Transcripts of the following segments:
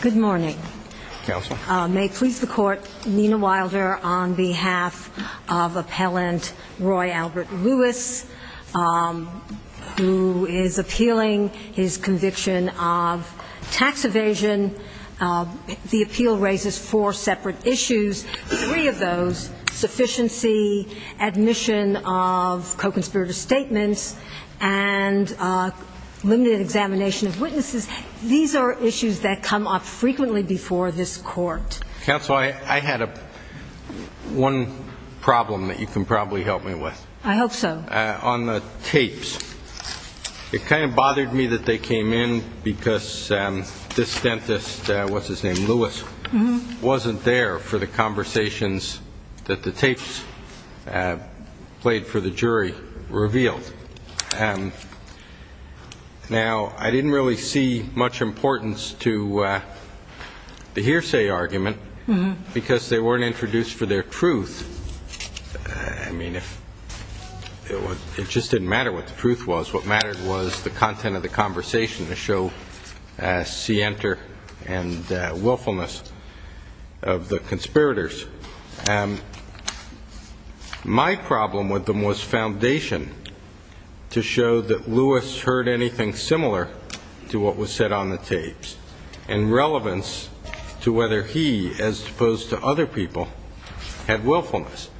Good morning. May it please the court, Nina Wilder on behalf of appellant Roy Albert Lewis who is appealing his conviction of tax evasion. The appeal raises four separate issues. Three of those, sufficiency, admission of co-conspirators to the court, and then the appeal raises the issue of whether or not there is sufficient evidence to support the conviction of a co-conspirator. So, the case, I want to start with the samples of the signatures, of the statements, and limited examination of witnesses. These are issues that come up frequently before this court. Counsel, I had one problem that you can probably help me with. I hope so. On the tapes. It kind of bothered me that they came in because this dentist, what's his name, Lewis, wasn't there for the conversations that the tapes played for the jury revealed. Now, I didn't really see much importance to the hearsay argument because they weren't introduced for their truth. I mean, it just didn't matter what the truth was. What mattered was the content of the conversation to show scienter and willfulness of the conspirators. My problem with them was foundation to show that Lewis heard anything similar to what was said on the tapes in relevance to whether he, as opposed to other people, had willfulness.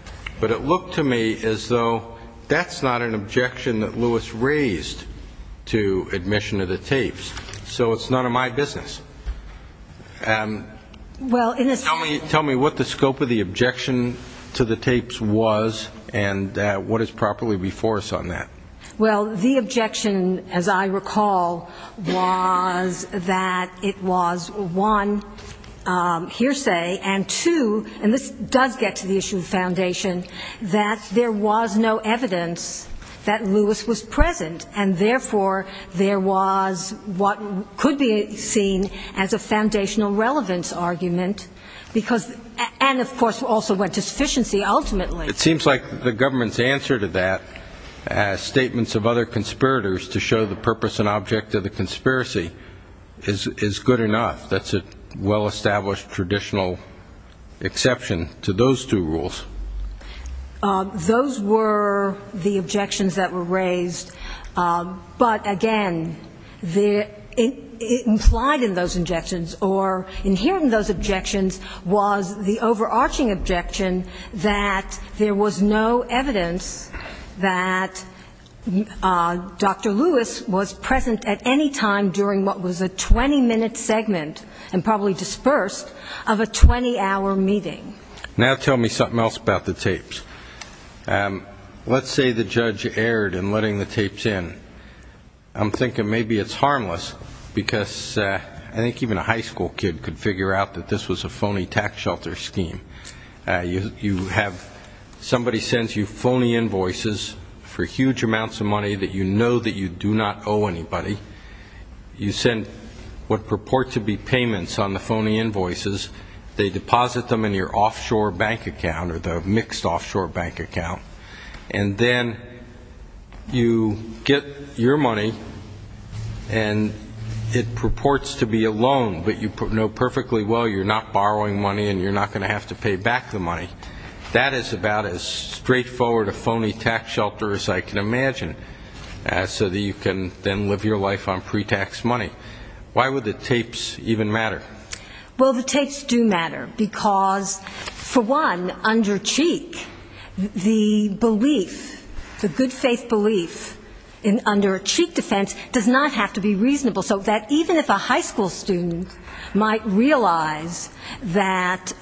But it looked to me as though that's not an objection that Lewis raised to admission of the tapes. So it's none of my business. Tell me what the scope of the objection to the tapes was and what is properly before us on that. Well, the objection, as I recall, was that it was, one, hearsay, and, two, and this does get to the issue of foundation. That there was no evidence that Lewis was present, and, therefore, there was what could be seen as a foundational relevance argument, and, of course, also went to sufficiency, ultimately. It seems like the government's answer to that, as statements of other conspirators to show the purpose and object of the conspiracy, is good enough. That's a well-established traditional exception to those two rules. Those were the objections that were raised. But, again, implied in those objections or inherent in those objections was the overarching objection that there was no evidence that Dr. Lewis was present at any time during what was a 20-minute segment. And probably dispersed, of a 20-hour meeting. Now tell me something else about the tapes. Let's say the judge erred in letting the tapes in. I'm thinking maybe it's harmless, because I think even a high school kid could figure out that this was a phony tax shelter scheme. You have somebody sends you phony invoices for huge amounts of money that you know that you do not owe anybody. You send what purport to be payments on the phony invoices. They deposit them in your offshore bank account, or the mixed offshore bank account. And then you get your money, and it purports to be a loan, but you know perfectly well you're not borrowing money and you're not going to have to pay back the money. That is about as straightforward a phony tax shelter as I can imagine, so that you can then live your life as you would like. Why would the tapes even matter? Well, the tapes do matter, because for one, under cheek, the belief, the good faith belief under a cheek defense does not have to be reasonable. So that even if a high school student might realize that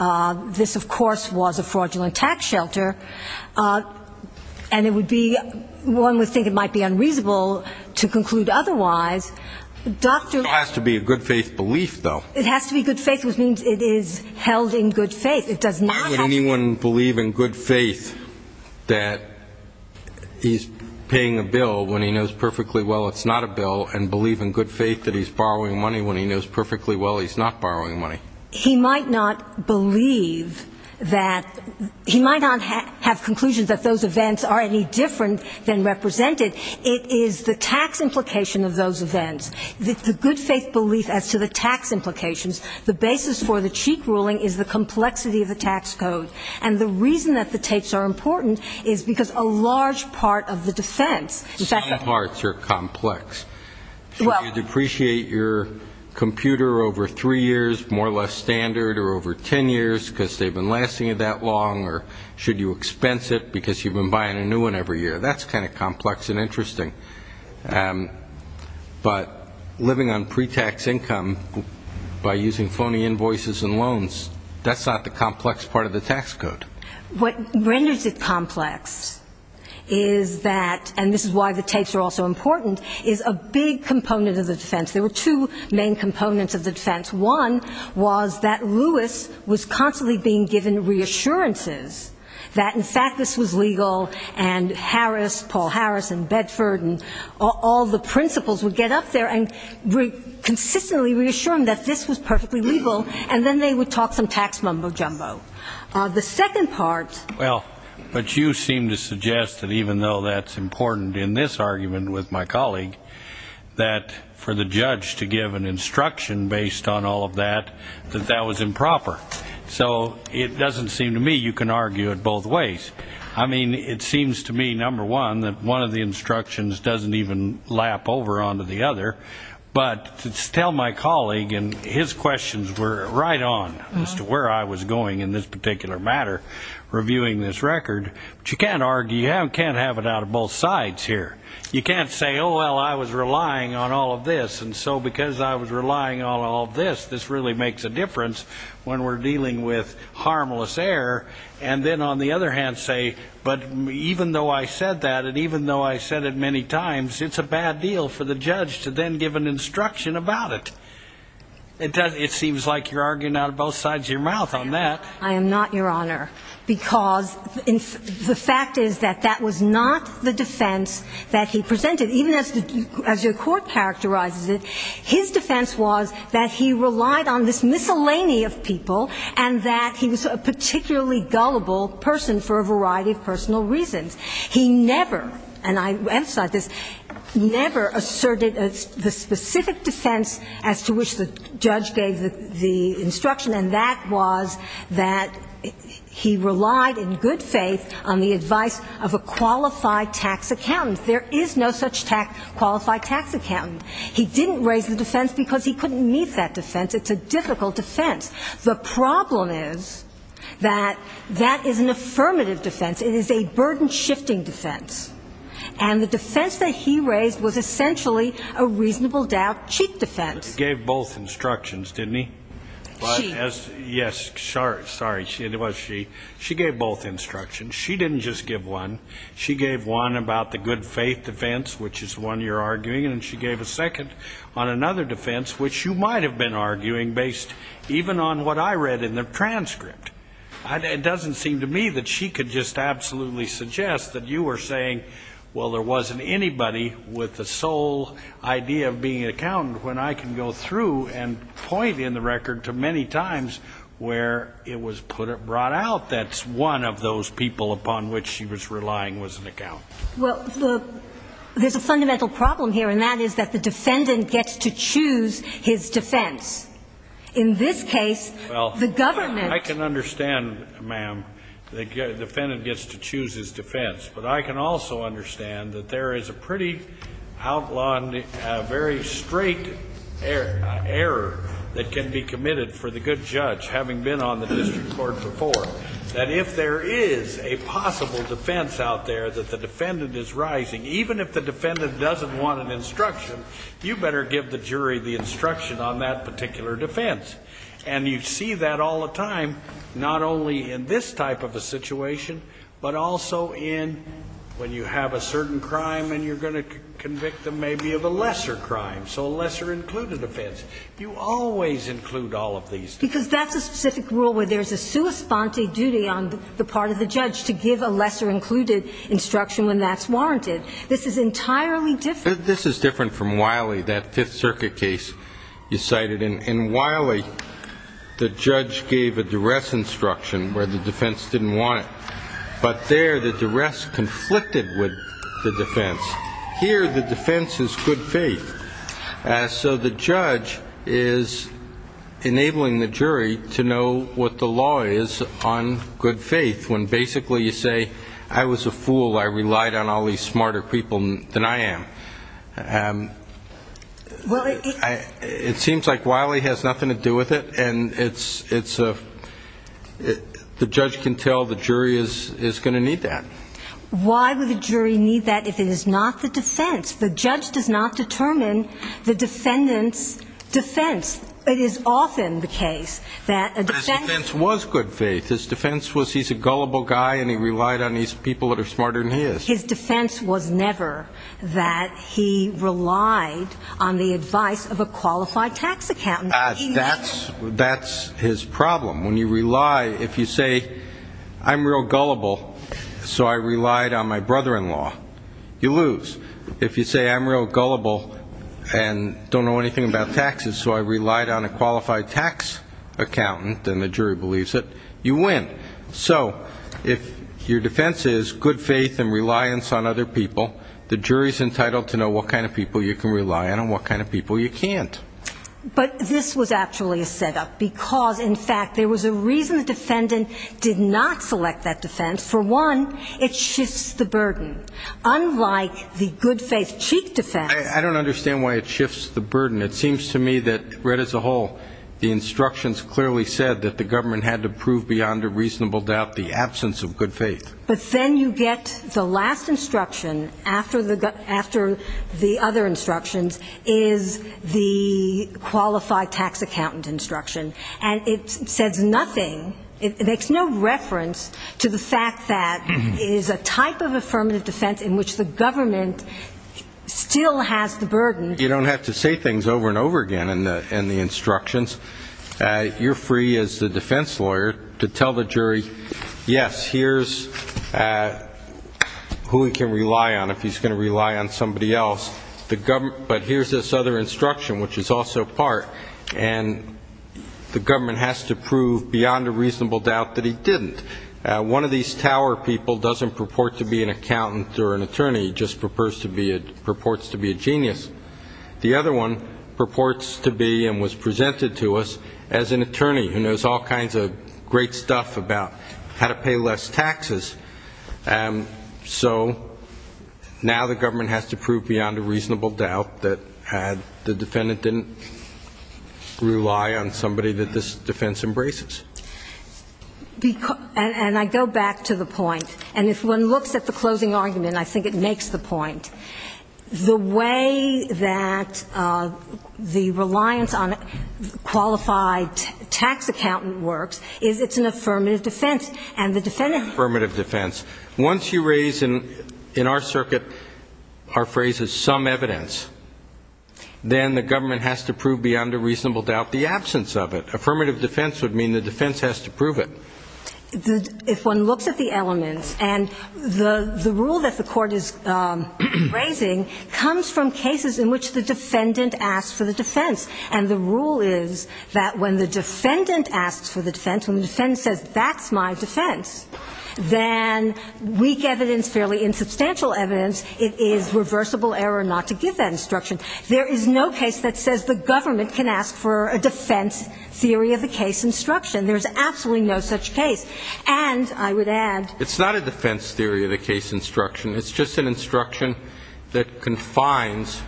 this, of course, was a fraudulent tax shelter, and it would be one would think it might be unreasonable to conclude otherwise, it has to be good faith, which means it is held in good faith. Why would anyone believe in good faith that he's paying a bill when he knows perfectly well it's not a bill, and believe in good faith that he's borrowing money when he knows perfectly well he's not borrowing money? He might not believe that, he might not have conclusions that those events are any different than represented. It is the tax implication of those events. The good faith belief as to the tax implications, the basis for the cheek ruling is the complexity of the tax code. And the reason that the tapes are important is because a large part of the defense, in fact the parts are complex. Should you depreciate your computer over three years, more or less standard, or over 10 years because they've been lasting you that long, or should you expense it because you've been buying a new one every year? That's kind of complex and interesting. But living on pre-tax income by using phony invoices and loans, that's not the complex part of the tax code. What renders it complex is that, and this is why the tapes are also important, is a big component of the defense. There were two main components of the defense. One was that Lewis was constantly being given reassurances that, in fact, this was legal, and Harris, Paul Harris and Bedford and all the principals would get up there and consistently reassure him that this was perfectly legal, and then they would talk some tax mumbo-jumbo. The second part --" I mean, it seems to me, number one, that one of the instructions doesn't even lap over onto the other. But tell my colleague, and his questions were right on as to where I was going in this particular matter, reviewing this record. But you can't argue, you can't have it out of both sides here. You can't say, oh, well, I was relying on all of this, and so because I was relying on all of this, this really makes a difference when we're dealing with harmless error. And then, on the other hand, say, but even though I said that and even though I said it many times, it's a bad deal for the judge to then give an instruction about it. It seems like you're arguing out of both sides of your mouth on that. I am not, Your Honor, because the fact is that that was not the defense that he presented. Even as the Court characterizes it, his defense was that he relied on this miscellany of people and that he was a particularly gullible person for a variety of personal reasons. He never, and I emphasize this, never asserted the specific defense as to which the judge gave the instruction, and that was that he relied in good faith on the advice of a qualified tax accountant. There is no such qualified tax accountant. He didn't raise the defense because he couldn't meet that defense. It's a difficult defense. The problem is that that is an affirmative defense. It is a burden-shifting defense. And the defense that he raised was essentially a reasonable doubt, cheap defense. He gave both instructions, didn't he? She. Yes, sorry, it was she. She gave both instructions. She didn't just give one. She gave one about the good-faith defense, which is one you're arguing, and she gave a second on another defense, which you might have been arguing based even on what I read in the transcript. It doesn't seem to me that she could just absolutely suggest that you were saying, well, there wasn't anybody with the sole idea of being an accountant when I can go through and point in the record to many times where it was brought out that one of those people upon which she was relying was an accountant. Well, there's a fundamental problem here, and that is that the defendant gets to choose his defense. In this case, the government. I can understand, ma'am, the defendant gets to choose his defense, but I can also understand that there is a pretty outlawed, very straight error that can be committed for the good judge, having been on the district court before, that if there is a possible defense out there that the defendant is rising, even if the defendant doesn't want an instruction, you better give the jury the instruction on that particular defense. And you see that all the time, not only in this type of a situation, but also in when you have a certain crime and you're going to convict them maybe of a lesser crime, so a lesser-included offense. You always include all of these things. Because that's a specific rule where there's a sua sponte duty on the part of the judge to give a lesser-included instruction when that's warranted. This is entirely different. This is different from Wiley, that Fifth Circuit case you cited. In Wiley, the judge gave a duress instruction where the defense didn't want it. But there, the duress conflicted with the defense. Here, the defense is good faith. So the judge is enabling the jury to know what the law is on good faith, when basically you say, I was a fool, I relied on all these smarter people than I am. It seems like Wiley has nothing to do with it, and the judge can tell the jury is going to need that. Why would the jury need that if it is not the defense? The judge does not determine the defendant's defense. It is often the case that a defense was good faith. His defense was he's a gullible guy and he relied on these people that are smarter than he is. His defense was never that he relied on the advice of a qualified tax accountant. That's his problem. When you rely, if you say, I'm real gullible, so I relied on my brother-in-law, you lose. If you say, I'm real gullible and don't know anything about taxes, so I relied on a qualified tax accountant, and the jury believes it, you win. So if your defense is good faith and reliance on other people, the jury is entitled to know what kind of people you can rely on and what kind of people you can't. But this was actually a setup because, in fact, there was a reason the defendant did not select that defense. For one, it shifts the burden. Unlike the good faith cheek defense. I don't understand why it shifts the burden. It seems to me that read as a whole, the instructions clearly said that the government had to prove beyond a reasonable doubt the absence of good faith. But then you get the last instruction after the other instructions is the qualified tax accountant instruction. And it says nothing, it makes no reference to the fact that it is a type of affirmative defense in which the government still has the burden. You don't have to say things over and over again in the instructions. You're free as the defense lawyer to tell the jury, yes, here's who we can rely on if he's going to rely on somebody else. But here's this other instruction, which is also part, and the government has to prove beyond a reasonable doubt that he didn't. One of these tower people doesn't purport to be an accountant or an attorney, just purports to be a genius. The other one purports to be and was presented to us as an attorney who knows all kinds of great stuff about how to pay less taxes. So now the government has to prove beyond a reasonable doubt that the defendant didn't rely on somebody that this defense embraces. And I go back to the point, and if one looks at the closing argument, I think it makes the point. The way that the reliance on qualified tax accountant works is it's an affirmative defense. Once you raise in our circuit, our phrase is some evidence, then the government has to prove beyond a reasonable doubt the absence of it. Affirmative defense would mean the defense has to prove it. If one looks at the elements, and the rule that the court is raising comes from cases in which the defendant asks for the defense. And the rule is that when the defendant asks for the defense, when the defense says that's my defense, then weak evidence, fairly insubstantial evidence, it is reversible error not to give that instruction. There is no case that says the government can ask for a defense theory of the case instruction. There's absolutely no such case. And I would add. It's not a defense theory of the case instruction. It's just an instruction that confines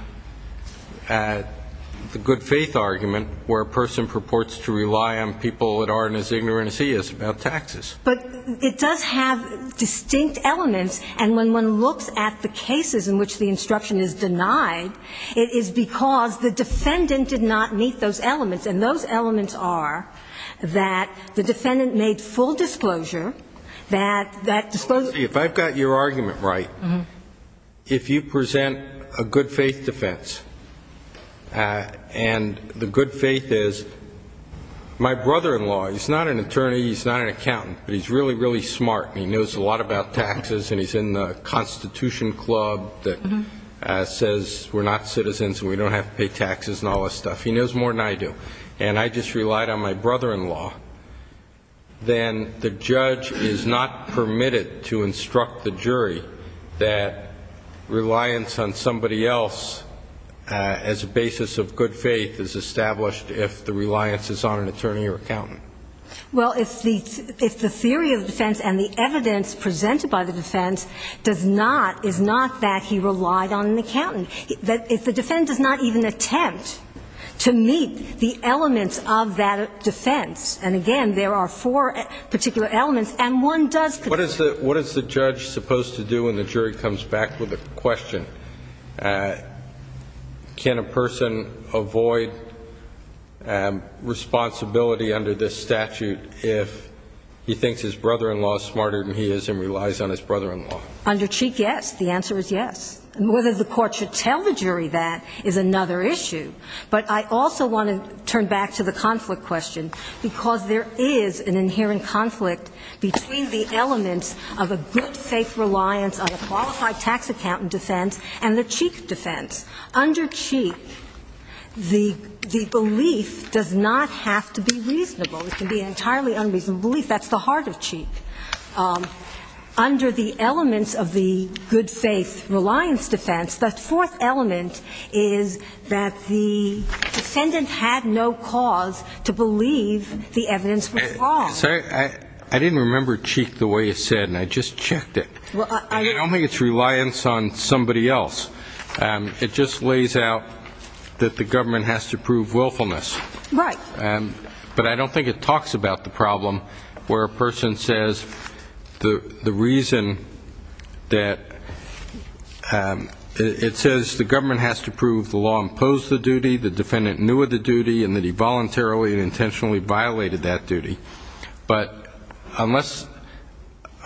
the good faith argument where a person purports to rely on people that aren't as ignorant as he is about taxes. But it does have distinct elements, and when one looks at the cases in which the instruction is denied, it is because the defendant did not meet those elements. And those elements are that the defendant made full disclosure that that disclosure. See, if I've got your argument right, if you present a good faith defense, and the good faith is my brother-in-law, he's not an attorney, he's not an accountant, but he's really, really smart and he knows a lot about taxes and he's in the Constitution Club that says we're not citizens and we don't have to pay taxes and all this stuff. He knows more than I do, and I just relied on my brother-in-law, then the judge is not permitted to instruct the jury that reliance on somebody else as a basis of good faith is established if the reliance is on an attorney or accountant. Well, if the theory of defense and the evidence presented by the defense does not, is not that he relied on an accountant. If the defense does not even attempt to meet the elements of that defense, and again, there are four particular elements, and one does. What is the judge supposed to do when the jury comes back with a question? Can a person avoid responsibility under this statute if he thinks his brother-in-law is smarter than he is and relies on his brother-in-law? Under Cheek, yes, the answer is yes. Whether the court should tell the jury that is another issue, but I also want to turn back to the conflict question, because there is an inherent conflict between the elements of a good faith reliance on a qualified tax accountant defense and the Cheek defense. Under Cheek, the belief does not have to be reasonable. It can be an entirely unreasonable belief. That's the heart of Cheek. Under the elements of the good faith reliance defense, the fourth element is that the defendant had no cause to believe the evidence was wrong. I didn't remember Cheek the way it said, and I just checked it. I don't think it's reliance on somebody else. It just lays out that the government has to prove willfulness. But I don't think it talks about the problem where a person says the reason that it says the government has to prove the law imposed the duty, the defendant knew of the duty, and that he voluntarily and intentionally violated that duty. But unless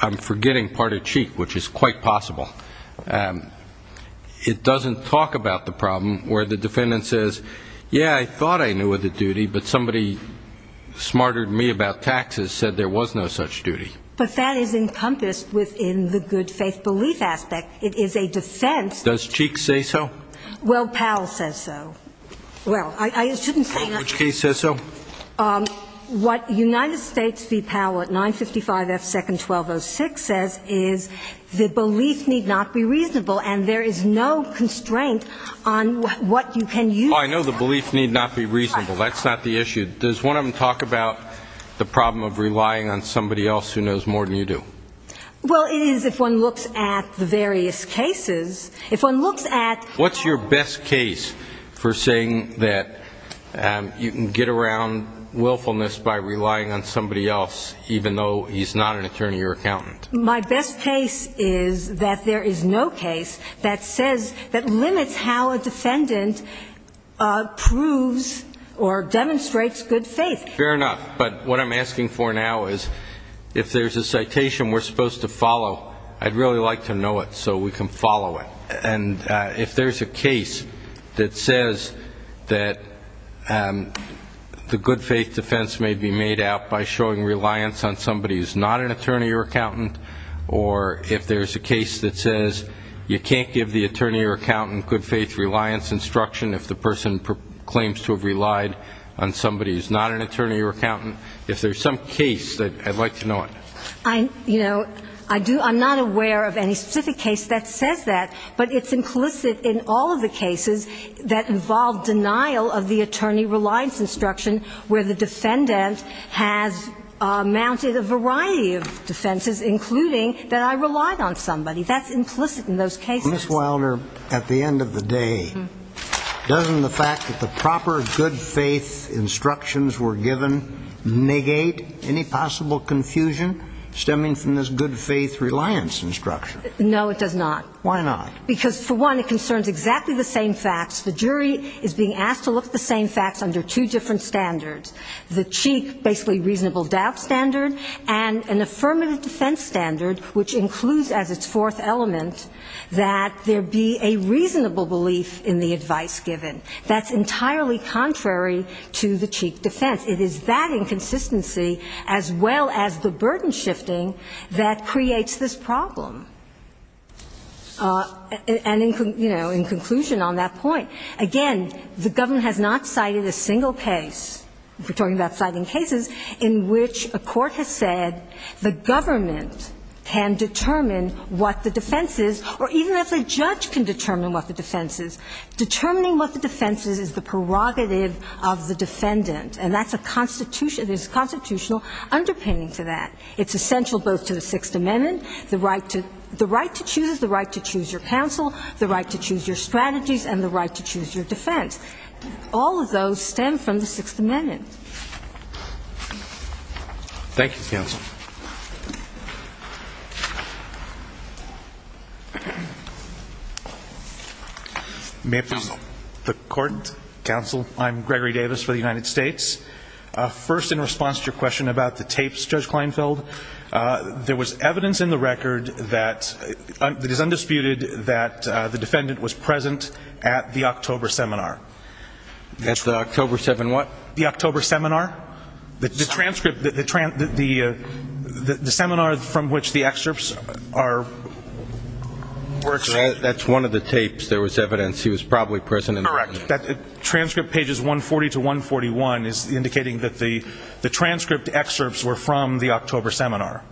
I'm forgetting part of Cheek, which is quite possible. It doesn't talk about the problem where the defendant says, yeah, I thought I knew of the duty, but somebody smarter than me about taxes said there was no such duty. But that is encompassed within the good faith belief aspect. It is a defense. Does Cheek say so? Well, Powell says so. Well, I shouldn't say that. Which case says so? What United States v. Powell at 955 F. Second 1206 says is the belief need not be reasonable, and there is no constraint on what you can use. Oh, I know the belief need not be reasonable. That's not the issue. Does one of them talk about the problem of relying on somebody else who knows more than you do? Well, it is if one looks at the various cases. If one looks at what's your best case for saying that you can get around willfulness by relying on somebody else, even though he's not an attorney or accountant? If there's a case that says that the good faith defense may be made out by showing reliance on somebody who's not an attorney or accountant, or if there's a case that says you can't give the attorney or accountant good faith reliance instruction if the person is not an attorney or accountant, I'd like to know it. I'm not aware of any specific case that says that, but it's implicit in all of the cases that involve denial of the attorney reliance instruction where the defendant has mounted a variety of defenses, including that I relied on somebody. That's implicit in those cases. Ms. Wilder, at the end of the day, doesn't the fact that the proper good faith instructions were given negate any possible confusion stemming from this good faith reliance instruction? No, it does not. Why not? Because, for one, it concerns exactly the same facts. The jury is being asked to look at the same facts under two different standards. The cheek, basically reasonable doubt standard, and an affirmative defense standard, which includes as its fourth element that there be a reasonable belief in the advice given. That's entirely contrary to the cheek defense. It is that inconsistency, as well as the burden shifting, that creates this problem. And, you know, in conclusion on that point, again, the government has not cited a single case, if we're talking about citing cases, in which a court has said the government can determine what the defense is, or even if a judge can determine what the defense is, determining what the defense is is the prerogative of the defendant. And that's a constitutional underpinning for that. It's essential both to the Sixth Amendment, the right to choose, the right to choose your counsel, the right to choose your strategies, and the right to choose your defense. All of those stem from the Sixth Amendment. Thank you, counsel. May I present the court? Counsel. I'm Gregory Davis for the United States. First, in response to your question about the tapes, Judge Kleinfeld, there was evidence in the record that it is undisputed that the defendant was present at the October seminar. At the October seven what? The October seminar. The transcript, the seminar from which the excerpts are. That's one of the tapes there was evidence he was probably present. Correct. The transcript pages 140 to 141 is indicating that the transcript excerpts were from the October seminar.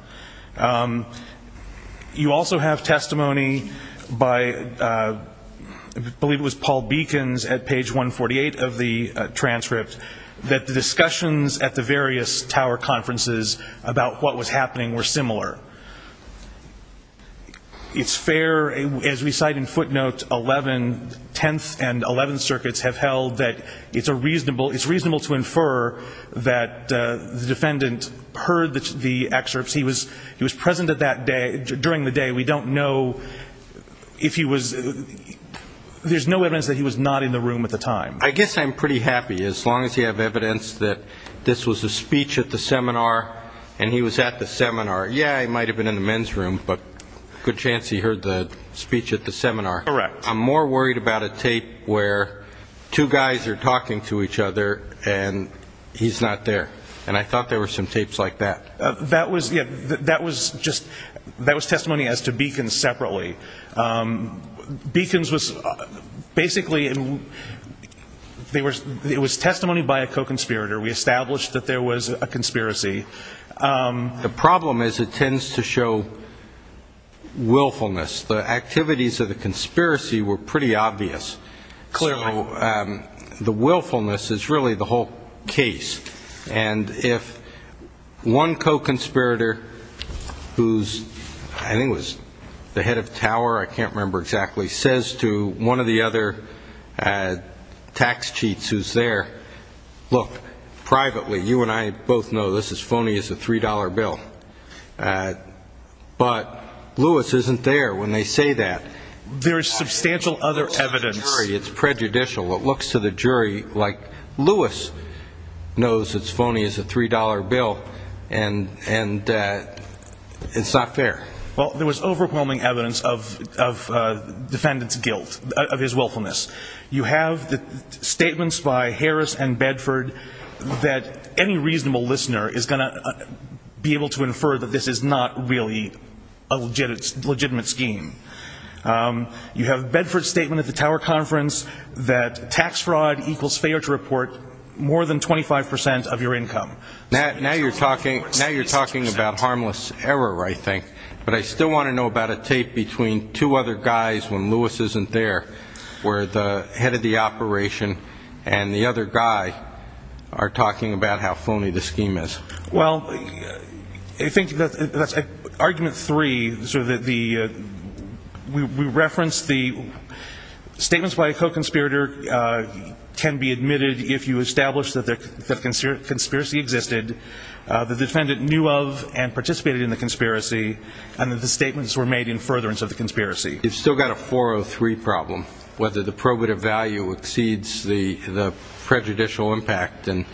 You also have testimony by, I believe it was Paul Beacons at page 148 of the transcript, that the discussions at the various tower conferences about what was happening were similar. It's fair, as we cite in footnote 11, 10th and 11th circuits, have held that it's reasonable to infer that the defendant heard the excerpts. He was present during the day. There's no evidence that he was not in the room at the time. I guess I'm pretty happy, as long as you have evidence that this was a speech at the seminar and he was at the seminar. Yeah, he might have been in the men's room, but good chance he heard the speech at the seminar. Correct. I'm more worried about a tape where two guys are talking to each other and he's not there. And I thought there were some tapes like that. That was testimony as to Beacons separately. Beacons was basically, it was testimony by a co-conspirator. We established that there was a conspiracy. The problem is it tends to show willfulness. The activities of the conspiracy were pretty obvious. The willfulness is really the whole case. And if one co-conspirator who's, I think it was the head of tower, I can't remember exactly, he says to one of the other tax cheats who's there, look, privately, you and I both know this is phony as a $3 bill. But Lewis isn't there when they say that. There's substantial other evidence. It's prejudicial. It looks to the jury like Lewis knows it's phony as a $3 bill, and it's not fair. Well, there was overwhelming evidence of defendant's guilt, of his willfulness. You have the statements by Harris and Bedford that any reasonable listener is going to be able to infer that this is not really a legitimate scheme. You have Bedford's statement at the tower conference that tax fraud equals failure to report more than 25 percent of your income. Now you're talking about harmless error, I think. But I still want to know about a tape between two other guys when Lewis isn't there where the head of the operation and the other guy are talking about how phony the scheme is. Well, I think that's argument three. We referenced the statements by a co-conspirator can be admitted if you establish that the conspiracy existed, the defendant knew of and participated in the conspiracy, and that the statements were made in furtherance of the conspiracy. You've still got a 403 problem, whether the probative value exceeds the prejudicial impact. And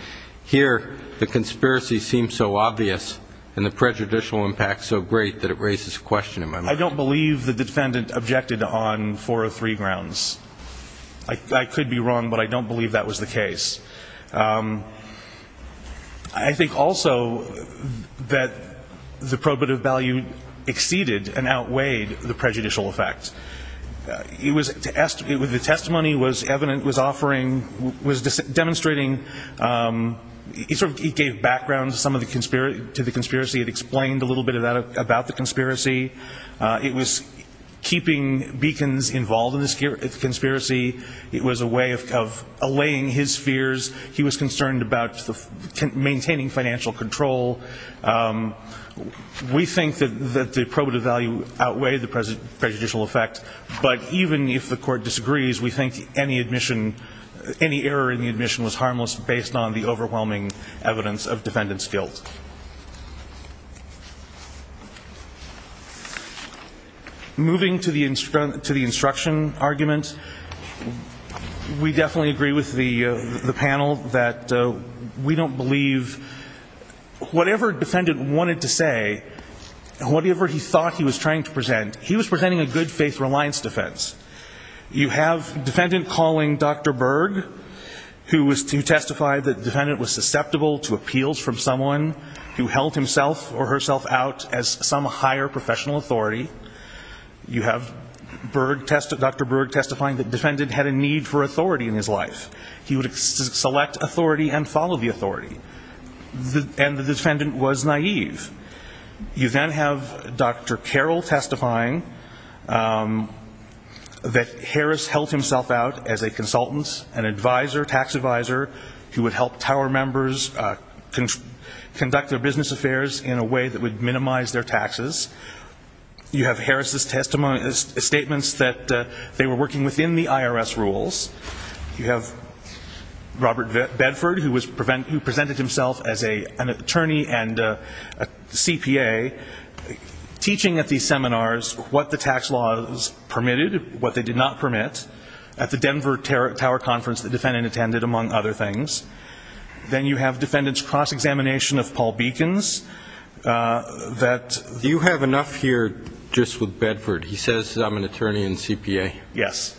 here the conspiracy seems so obvious and the prejudicial impact so great that it raises a question in my mind. I don't believe the defendant objected on 403 grounds. I could be wrong, but I don't believe that was the case. I think also that the probative value exceeded and outweighed the prejudicial effect. The testimony was evident, was offering, was demonstrating, it gave background to the conspiracy, it explained a little bit about the conspiracy. It was keeping beacons involved in the conspiracy. It was a way of allaying his fears. He was concerned about maintaining financial control. We think that the probative value outweighed the prejudicial effect, but even if the court disagrees, we think any admission, any error in the admission was harmless based on the overwhelming evidence of defendant's guilt. Moving to the instruction argument, we definitely agree with the panel that we don't believe whatever defendant wanted to say, whatever he thought he was trying to present, he was presenting a good-faith reliance defense. You have defendant calling Dr. Berg, who testified that defendant was susceptible to appeals from someone who held himself or herself out as some higher professional authority. You have Dr. Berg testifying that defendant had a need for authority in his life. He would select authority and follow the authority. And the defendant was naive. You then have Dr. Carroll testifying that Harris held himself out as a consultant, an advisor, tax advisor, who would help Tower members conduct their business affairs in a way that would minimize their taxes. You have Harris' statements that they were working within the IRS rules. You have Robert Bedford, who presented himself as an attorney and a CPA, teaching at these seminars what the tax laws permitted, what they did not permit, at the Denver Tower Conference the defendant attended, among other things. Then you have defendants' cross-examination of Paul Beacons. Do you have enough here just with Bedford? He says, I'm an attorney and CPA. Yes.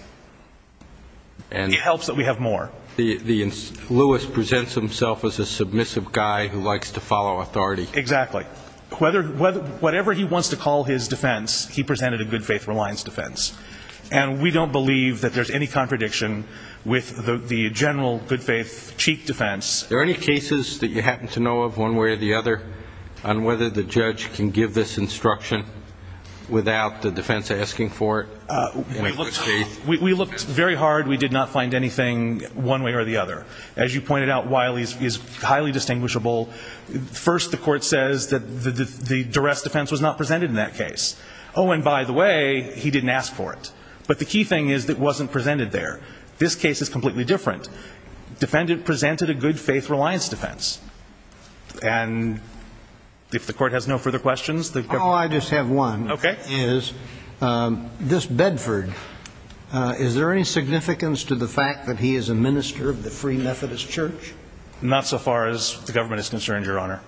It helps that we have more. Lewis presents himself as a submissive guy who likes to follow authority. Exactly. Whatever he wants to call his defense, he presented a good-faith reliance defense. And we don't believe that there's any contradiction with the general good-faith cheek defense. Are there any cases that you happen to know of, one way or the other, on whether the judge can give this instruction without the defense asking for it? We looked very hard. We did not find anything one way or the other. As you pointed out, Wiley is highly distinguishable. First, the court says that the duress defense was not presented in that case. Oh, and by the way, he didn't ask for it. But the key thing is that it wasn't presented there. This case is completely different. The defendant presented a good-faith reliance defense. And if the court has no further questions, the government... All I just have one, is this Bedford, is there any significance to the fact that he is a minister of the Free Methodist Church? Not so far as the government is concerned, Your Honor.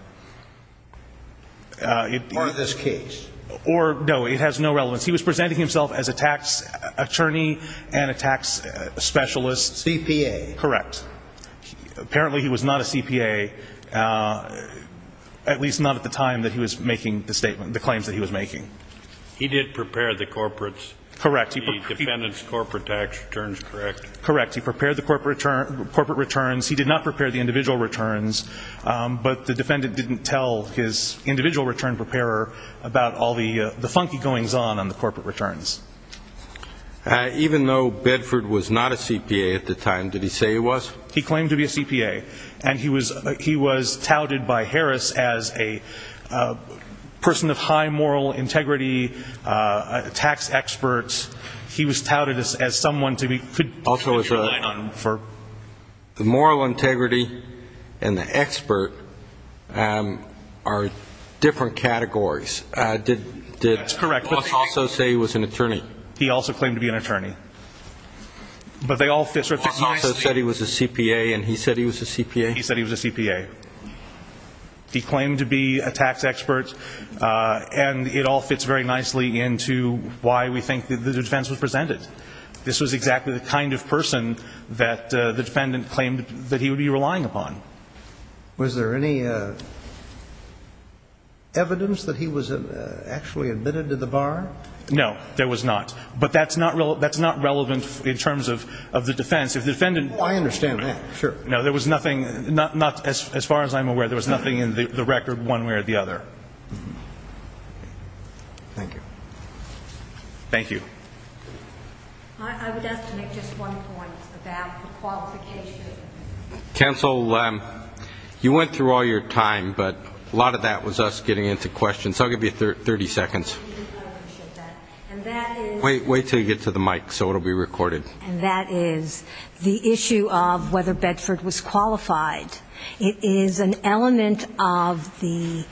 Or this case. No, it has no relevance. He was presenting himself as a tax attorney and a tax specialist. CPA. Correct. Apparently he was not a CPA, at least not at the time that he was making the statement, the claims that he was making. He did prepare the corporates. Correct. The defendant's corporate tax returns, correct? Correct. He prepared the corporate returns. He did not prepare the individual returns. But the defendant didn't tell his individual return preparer about all the funky goings-on on the corporate returns. Even though Bedford was not a CPA at the time, did he say he was? He claimed to be a CPA. And he was touted by Harris as a person of high moral integrity, a tax expert. He was touted as someone to be- Also, the moral integrity and the expert are different categories. That's correct. Did he also say he was an attorney? He also claimed to be an attorney. But they all fit. He also said he was a CPA, and he said he was a CPA? He said he was a CPA. He claimed to be a tax expert, and it all fits very nicely into why we think the defense was presented. This was exactly the kind of person that the defendant claimed that he would be relying upon. Was there any evidence that he was actually admitted to the bar? No, there was not. But that's not relevant in terms of the defense. I understand that, sure. No, there was nothing, as far as I'm aware, there was nothing in the record one way or the other. Thank you. Thank you. I would ask to make just one point about the qualification. Counsel, you went through all your time, but a lot of that was us getting into questions. So I'll give you 30 seconds. Wait until you get to the mic so it will be recorded. And that is the issue of whether Bedford was qualified. It is an element of the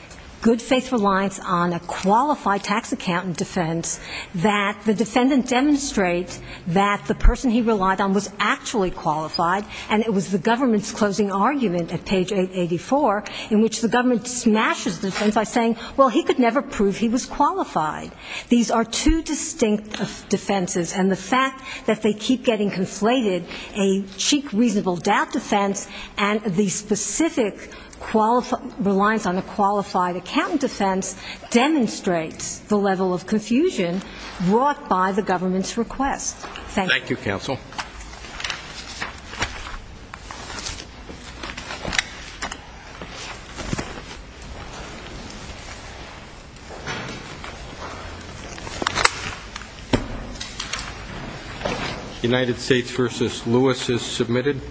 good faith reliance on a qualified tax accountant defense that the defendant demonstrates that the person he relied on was actually qualified, and it was the government's closing argument at page 884 in which the government smashes defense by saying, well, he could never prove he was qualified. These are two distinct defenses, and the fact that they keep getting conflated, a cheek reasonable doubt defense and the specific reliance on a qualified accountant defense demonstrates the level of confusion brought by the government's request. Thank you. Thank you, counsel. United States v. Lewis is submitted.